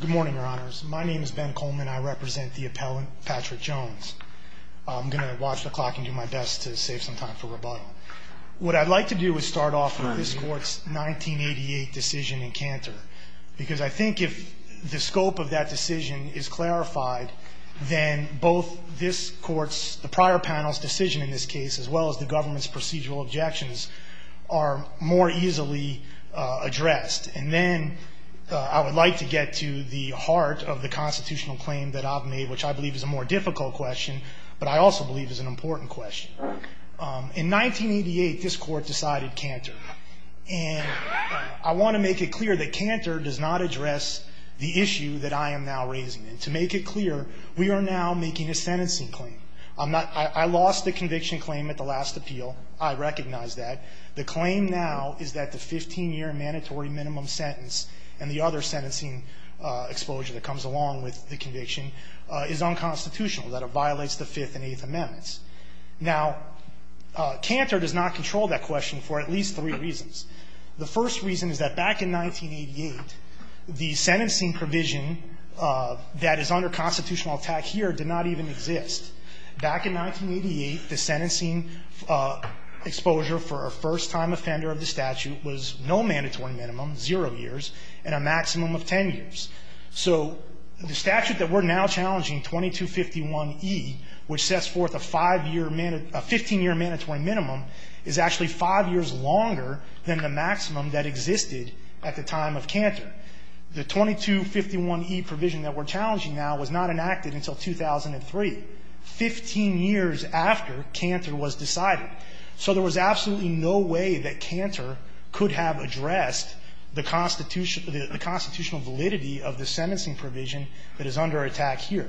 Good morning, your honors. My name is Ben Coleman. I represent the appellant Patrick Jones. I'm going to watch the clock and do my best to save some time for rebuttal. What I'd like to do is start off with this court's 1988 decision in Cantor, because I think if the scope of that decision is clarified, then both this court's, the prior panel's decision in this case, as well as the government's procedural objections are more easily addressed. And then I would like to get to the heart of the constitutional claim that I've made, which I believe is a more difficult question, but I also believe is an important question. In 1988, this court decided Cantor. And I want to make it clear that Cantor does not address the issue that I am now raising. And to make it clear, we are now making a sentencing claim. I'm not – I lost the conviction claim at the last appeal. I recognize that. The claim now is that the 15-year mandatory minimum sentence and the other sentencing exposure that comes along with the conviction is unconstitutional, that it violates the Fifth and Eighth Amendments. Now, Cantor does not control that question for at least three reasons. The first reason is that back in 1988, the sentencing provision that is under constitutional attack here did not even exist. Back in 1988, the sentencing exposure for a first-time offender of the statute was no mandatory minimum, zero years, and a maximum of 10 years. So the statute that we're now challenging, 2251e, which sets forth a 5-year – a 15-year mandatory minimum, is actually 5 years longer than the maximum that existed at the time of Cantor. The 2251e provision that we're challenging now was not enacted until 2003, 15 years after Cantor was decided. So there was absolutely no way that Cantor could have addressed the constitutional validity of the sentencing provision that is under attack here.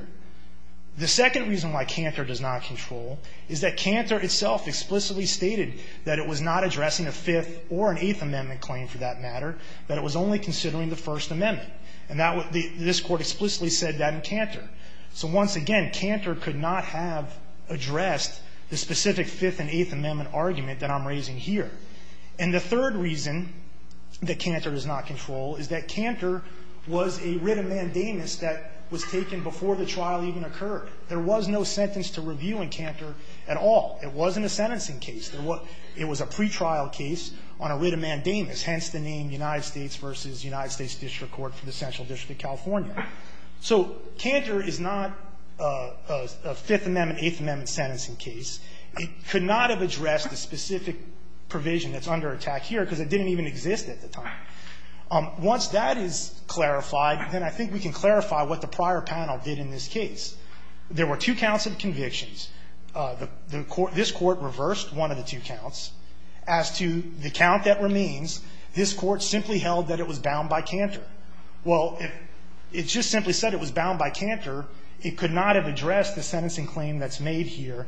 The second reason why Cantor does not control is that Cantor itself explicitly stated that it was not addressing a Fifth or an Eighth Amendment claim, for that matter, that it was only considering the First Amendment. And that was the – this Court explicitly said that in Cantor. So once again, Cantor could not have addressed the specific Fifth and Eighth Amendment argument that I'm raising here. And the third reason that Cantor does not control is that Cantor was a writ of mandamus that was taken before the trial even occurred. There was no sentence to review in Cantor at all. It wasn't a sentencing case. It was a pretrial case on a writ of mandamus, hence the name United States v. United States District Court for the Central District of California. So Cantor is not a Fifth Amendment, Eighth Amendment sentencing case. It could not have addressed the specific provision that's under attack here because it didn't even exist at the time. Once that is clarified, then I think we can going to look at, the court did not reverse one of the two counts that the panel did in this case. There were two counts of convictions. The court – this Court reversed one of the two counts. As to the count that remains, this Court simply held that it was bound by Cantor. Well, if it just simply said it was bound by Cantor, it could not have addressed the sentencing claim that's there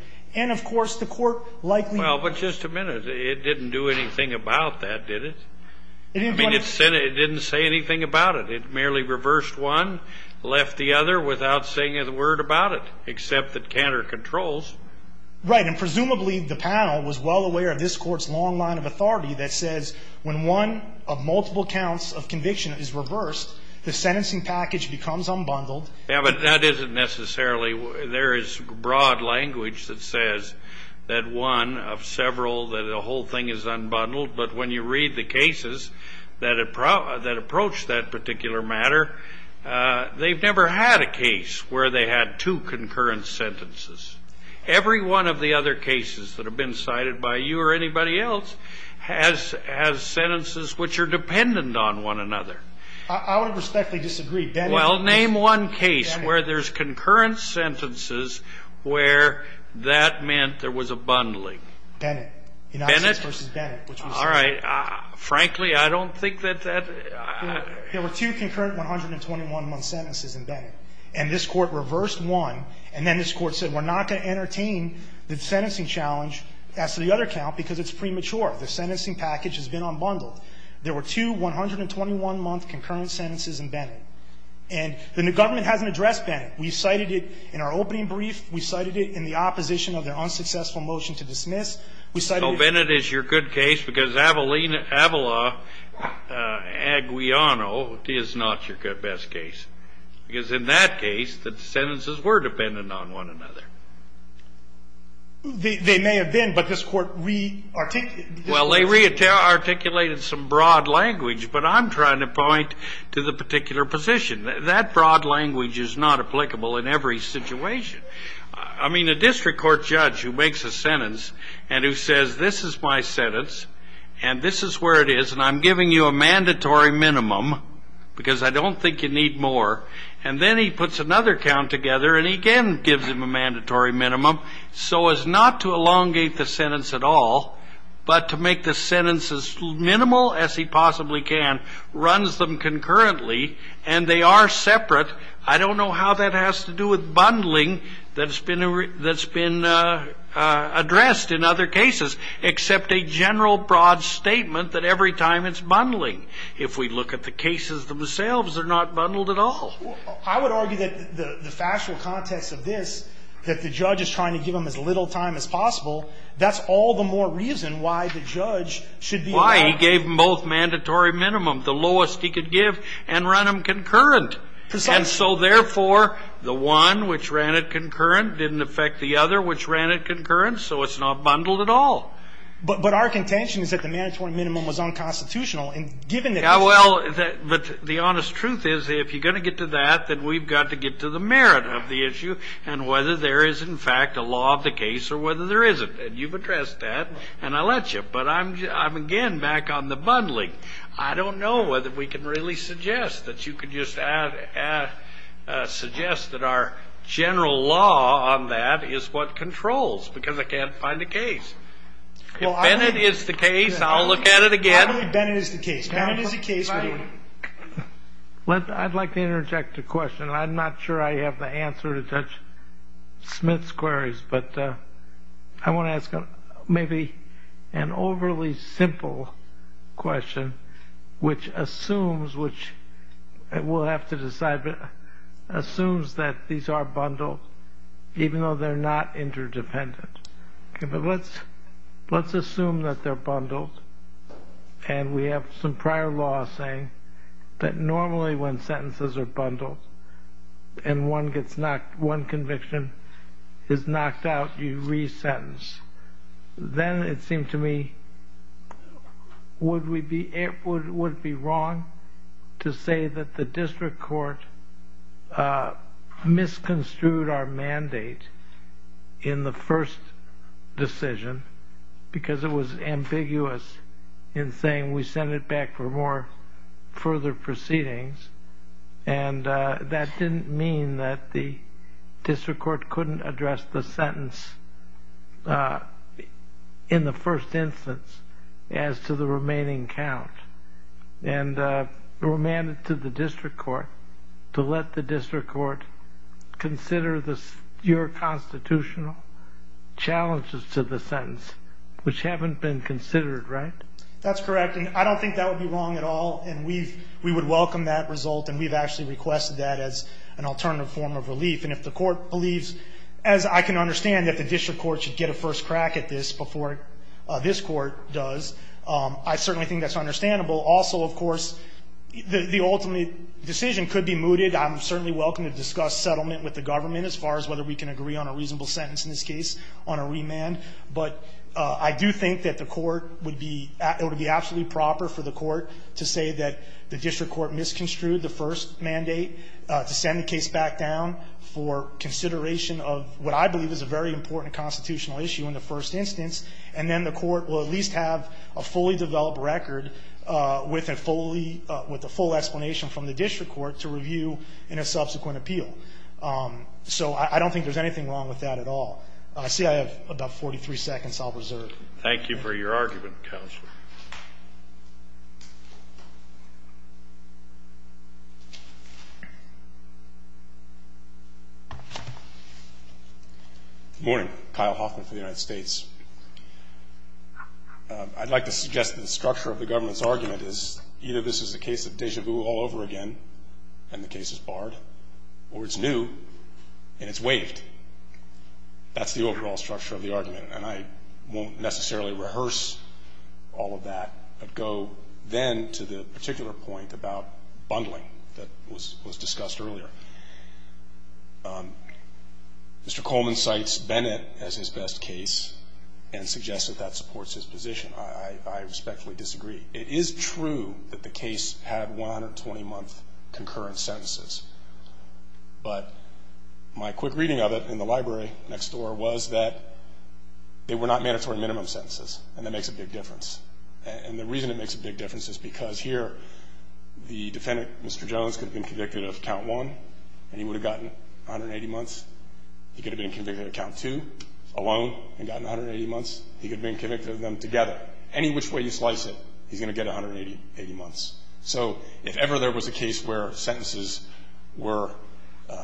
without saying a word about it, except that Cantor controls. Right, and presumably the panel was well aware of this Court's long line of authority that says when one of multiple counts of conviction is reversed, the sentencing package becomes unbundled. Yeah, but that isn't necessarily – there is broad language that says that one of several, that the whole thing is unbundled, but when you read the cases that approach that particular matter, they've never had a case where they had two concurrent sentences. Every one of the other cases that have been cited by you or anybody else has – has sentences which are dependent on one another. I would respectfully disagree. Well, name one case where there's concurrent sentences where that meant there was a bundling. Bennett. Bennett? United v. Bennett, which was the case. Frankly, I don't think that that – There were two concurrent 121-month sentences in Bennett, and this Court reversed one, and then this Court said we're not going to entertain the sentencing challenge as to the other count because it's premature. The sentencing package has been unbundled. There were two 121-month concurrent sentences in Bennett, and the government hasn't addressed Bennett. We cited it in our opening brief. We cited it in the opposition of their unsuccessful motion to dismiss. So Bennett is your good case because Avala-Aguillano is not your best case. Because in that case, the sentences were dependent on one another. They may have been, but this Court re-articulated. Well, they re-articulated some broad language, but I'm trying to point to the particular position. That broad language is not applicable in every situation. I mean, a district court judge who makes a sentence and who says, this is my sentence, and this is where it is, and I'm giving you a mandatory minimum because I don't think you need more, and then he puts another count together, and he again gives him a mandatory minimum so as not to elongate the sentence at all, but to make the sentence as minimal as he possibly can, runs them concurrently, and they are separate. I don't know how that has to do with bundling that's been addressed in other cases, except a general broad statement that every time it's bundling. If we look at the cases themselves, they're not bundled at all. I would argue that the factual context of this, that the judge is trying to give him as little time as possible, that's all the more reason why the judge should be allowed- Why he gave them both mandatory minimum, the lowest he could give, and run them concurrent. And so therefore, the one which ran it concurrent didn't affect the other which ran it concurrent, so it's not bundled at all. But our contention is that the mandatory minimum was unconstitutional, and given that- Yeah, well, but the honest truth is, if you're going to get to that, then we've got to get to the merit of the issue, and whether there is, in fact, a law of the case or whether there isn't. And you've addressed that, and I'll let you, but I'm again back on the bundling. I don't know whether we can really suggest that you could just add, suggest that our general law on that is what controls, because I can't find a case. If Bennett is the case, I'll look at it again. I believe Bennett is the case. Bennett is the case, but- I'd like to interject a question. I'm not sure I have the answer to Judge Smith's queries, but I want to ask maybe an overly simple question, which assumes, which we'll have to decide, but assumes that these are bundled, even though they're not interdependent, okay? But let's assume that they're bundled, and we have some prior law saying that normally when sentences are bundled, and one conviction is knocked out, you re-sentence. Then it seemed to me, would it be wrong to say that the district court misconstrued our mandate in the first decision, because it was ambiguous in saying we send it back for more further proceedings. And that didn't mean that the district court couldn't address the sentence in the first instance as to the remaining count. And it was mandate to the district court to let the district court consider your constitutional challenges to the sentence, which haven't been considered, right? That's correct, and I don't think that would be wrong at all, and we would welcome that result, and we've actually requested that as an alternative form of relief. And if the court believes, as I can understand, that the district court should get a first crack at this before this court does, I certainly think that's understandable. Also, of course, the ultimate decision could be mooted. I'm certainly welcome to discuss settlement with the government as far as whether we can agree on a reasonable sentence in this case on a remand. But I do think that the court would be, it would be absolutely proper for the court to say that the district court misconstrued the first mandate to send the case back down for consideration of what I believe is a very important constitutional issue in the first instance. And then the court will at least have a fully developed record with a full explanation from the district court to review in a subsequent appeal. So I don't think there's anything wrong with that at all. I see I have about 43 seconds I'll reserve. Thank you for your argument, Counselor. Morning. Kyle Hoffman for the United States. I'd like to suggest that the structure of the government's argument is either this is a case of deja vu all over again, and the case is barred, or it's new, and it's waived. That's the overall structure of the argument. And I won't necessarily rehearse all of that, but go then to the particular point about bundling that was discussed earlier. Mr. Coleman cites Bennett as his best case and suggests that that supports his position. I respectfully disagree. It is true that the case had 120-month concurrent sentences. But my quick reading of it in the library next door was that they were not mandatory minimum sentences, and that makes a big difference. And the reason it makes a big difference is because here the defendant, Mr. Jones, could have been convicted of count one, and he would have gotten 180 months. He could have been convicted of count two alone and gotten 180 months. He could have been convicted of them together. Any which way you slice it, he's going to get 180 months. So if ever there was a case where sentences were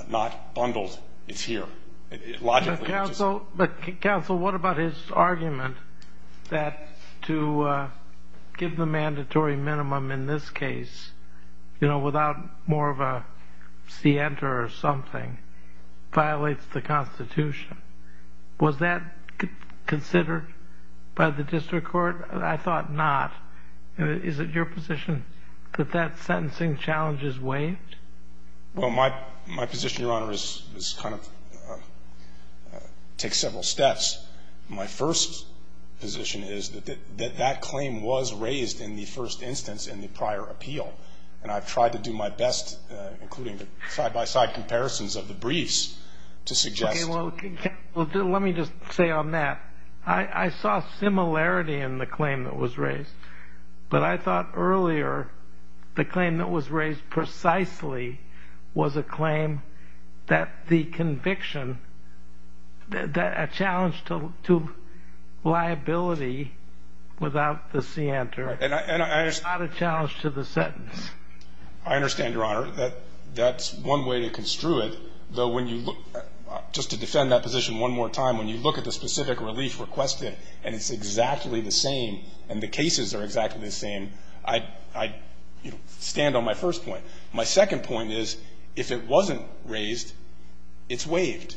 not bundled, it's here. Logically, it's just- But counsel, what about his argument that to give the mandatory minimum in this case, you know, without more of a scienter or something, violates the Constitution? Was that considered by the district court? I thought not. Is it your position that that sentencing challenge is waived? Well, my position, Your Honor, is kind of, takes several steps. My first position is that that claim was raised in the first instance in the prior appeal. And I've tried to do my best, including the side-by-side comparisons of the briefs, to suggest- Okay, well, let me just say on that. I saw similarity in the claim that was raised. But I thought earlier, the claim that was raised precisely was a claim that the conviction, that a challenge to liability without the scienter is not a challenge to the sentence. I understand, Your Honor, that that's one way to construe it. Though when you look, just to defend that position one more time, when you look at the specific relief requested, and it's exactly the same, and the cases are exactly the same, I stand on my first point. My second point is, if it wasn't raised, it's waived.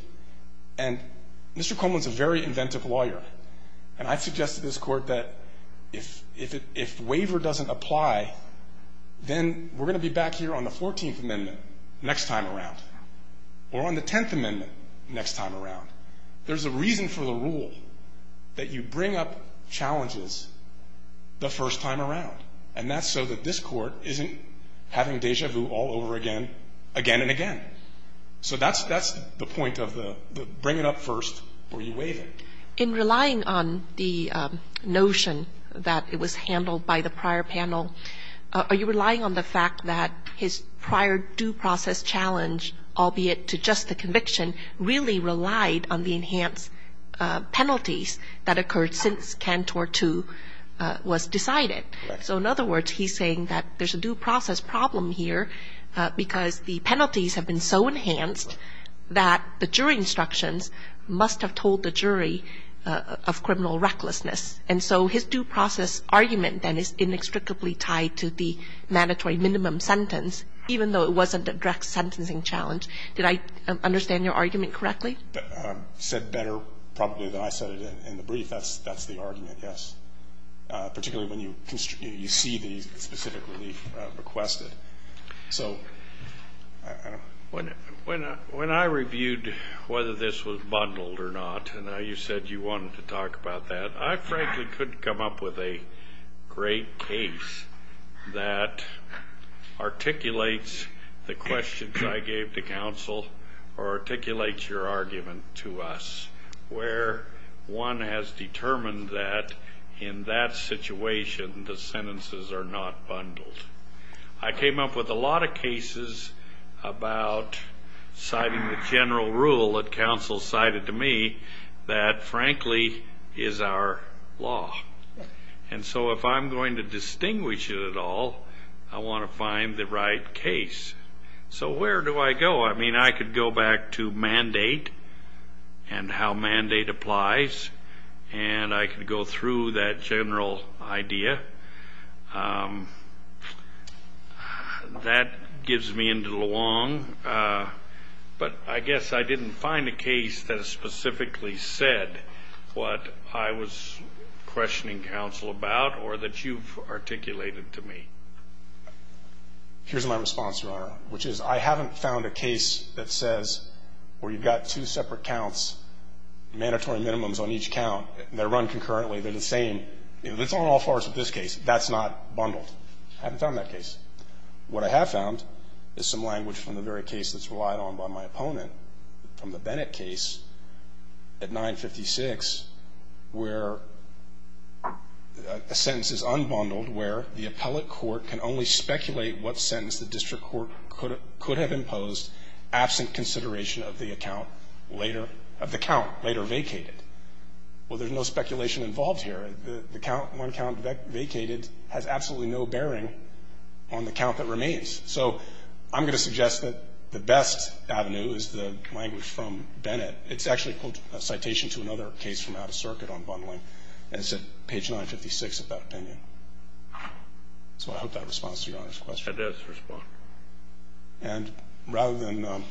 And Mr. Coleman's a very inventive lawyer. And I've suggested to this court that if waiver doesn't apply, then we're going to be back here on the 14th Amendment next time around, or on the 10th Amendment next time around. There's a reason for the rule that you bring up challenges the first time around. And that's so that this court isn't having deja vu all over again, again and again. So that's the point of the bring it up first, or you waive it. In relying on the notion that it was handled by the prior panel, are you relying on the fact that his prior due process challenge, albeit to just the conviction, really relied on the enhanced penalties that occurred since Cantor 2 was decided? So in other words, he's saying that there's a due process problem here because the penalties have been so enhanced that the jury instructions must have told the jury of criminal recklessness. And so his due process argument then is inextricably tied to the mandatory minimum sentence, even though it wasn't a direct sentencing challenge. Did I understand your argument correctly? You said better probably than I said it in the brief. That's the argument, yes, particularly when you see the specific relief requested. So I don't know. When I reviewed whether this was bundled or not, and you said you wanted to talk about that, I frankly couldn't come up with a great case that articulates the questions I gave to counsel or articulates your argument to us, where one has determined that in that situation, the sentences are not bundled. I came up with a lot of cases about citing the general rule that counsel cited to me that, frankly, is our law. And so if I'm going to distinguish it at all, I want to find the right case. So where do I go? I mean, I could go back to mandate and how mandate applies, and I could go through that general idea. That gives me into the long, but I guess I didn't find a case that specifically said what I was questioning counsel about or that you've articulated to me. Here's my response, Your Honor, which is I haven't found a case that says, where you've got two separate counts, mandatory minimums on each count, they're run concurrently, they're the same. It's on all fours with this case. That's not bundled. I haven't found that case. What I have found is some language from the very case that's relied on by my opponent, from the Bennett case at 956, where a sentence is unbundled, where the appellate court can only speculate what sentence the district court could have imposed absent consideration of the account later, of the count later vacated. Well, there's no speculation involved here. The count, one count vacated has absolutely no bearing on the count that remains. So I'm going to suggest that the best avenue is the language from Bennett. It's actually a citation to another case from out of circuit on bundling. And it's at page 956 of that opinion. So I hope that responds to Your Honor's question. It does respond. And rather than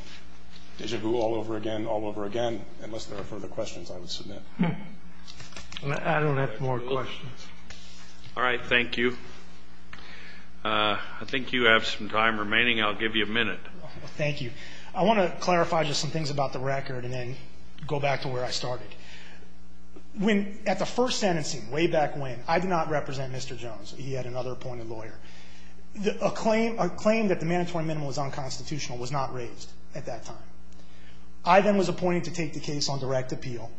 deja vu all over again, all over again, unless there are further questions, I would submit. I don't have more questions. All right. Thank you. I think you have some time remaining. I'll give you a minute. Thank you. I want to clarify just some things about the record and then go back to where I started. When at the first sentencing, way back when, I did not represent Mr. Jones. He had another appointed lawyer. A claim that the mandatory minimum was unconstitutional was not raised at that time. I then was appointed to take the case on direct appeal.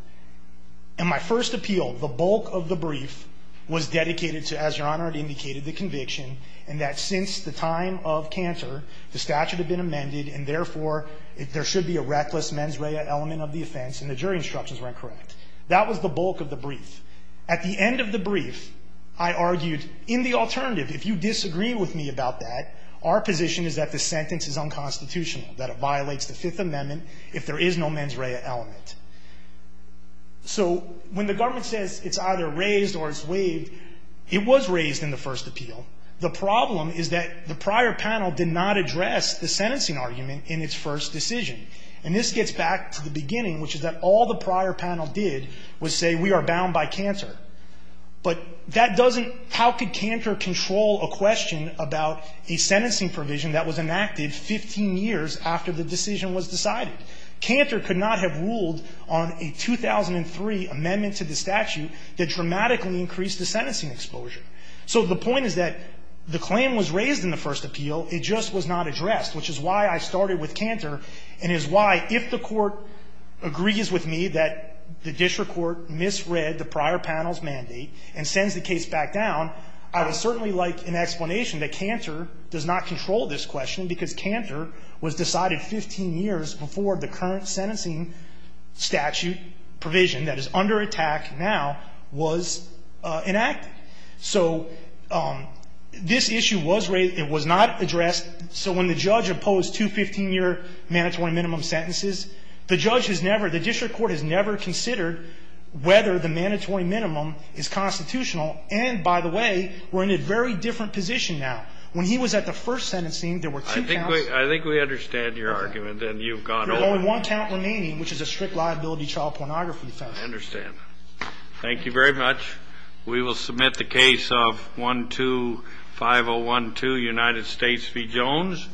And my first appeal, the bulk of the brief was dedicated to, as Your Honor had indicated, the conviction and that since the time of Cantor, the statute had been amended and therefore, there should be a reckless mens rea element of the offense and the jury instructions were incorrect. That was the bulk of the brief. At the end of the brief, I argued, in the alternative, if you disagree with me about that, our position is that the sentence is unconstitutional, that it violates the Fifth Amendment if there is no mens rea element. So when the government says it's either raised or it's waived, it was raised in the first appeal. The problem is that the prior panel did not address the sentencing argument in its first decision. And this gets back to the beginning, which is that all the prior panel did was say, we are bound by Cantor. But that doesn't, how could Cantor control a question about a sentencing provision that was enacted 15 years after the decision was decided? Cantor could not have ruled on a 2003 amendment to the statute that dramatically increased the sentencing exposure. So the point is that the claim was raised in the first appeal. It just was not addressed, which is why I started with Cantor and is why, if the Court agrees with me that the district court misread the prior panel's mandate and sends the case back down, I would certainly like an explanation that Cantor does not control this question because Cantor was decided 15 years before the current sentencing statute provision that is under attack now was enacted. So this issue was raised, it was not addressed. So when the judge opposed two 15-year mandatory minimum sentences, the judge has never, the district court has never considered whether the mandatory minimum is constitutional. And by the way, we're in a very different position now. When he was at the first sentencing, there were two counts. I think we understand your argument and you've gone over it. There's only one count remaining, which is a strict liability child pornography offense. I understand. Thank you very much. We will submit the case of 125012, United States v. Jones.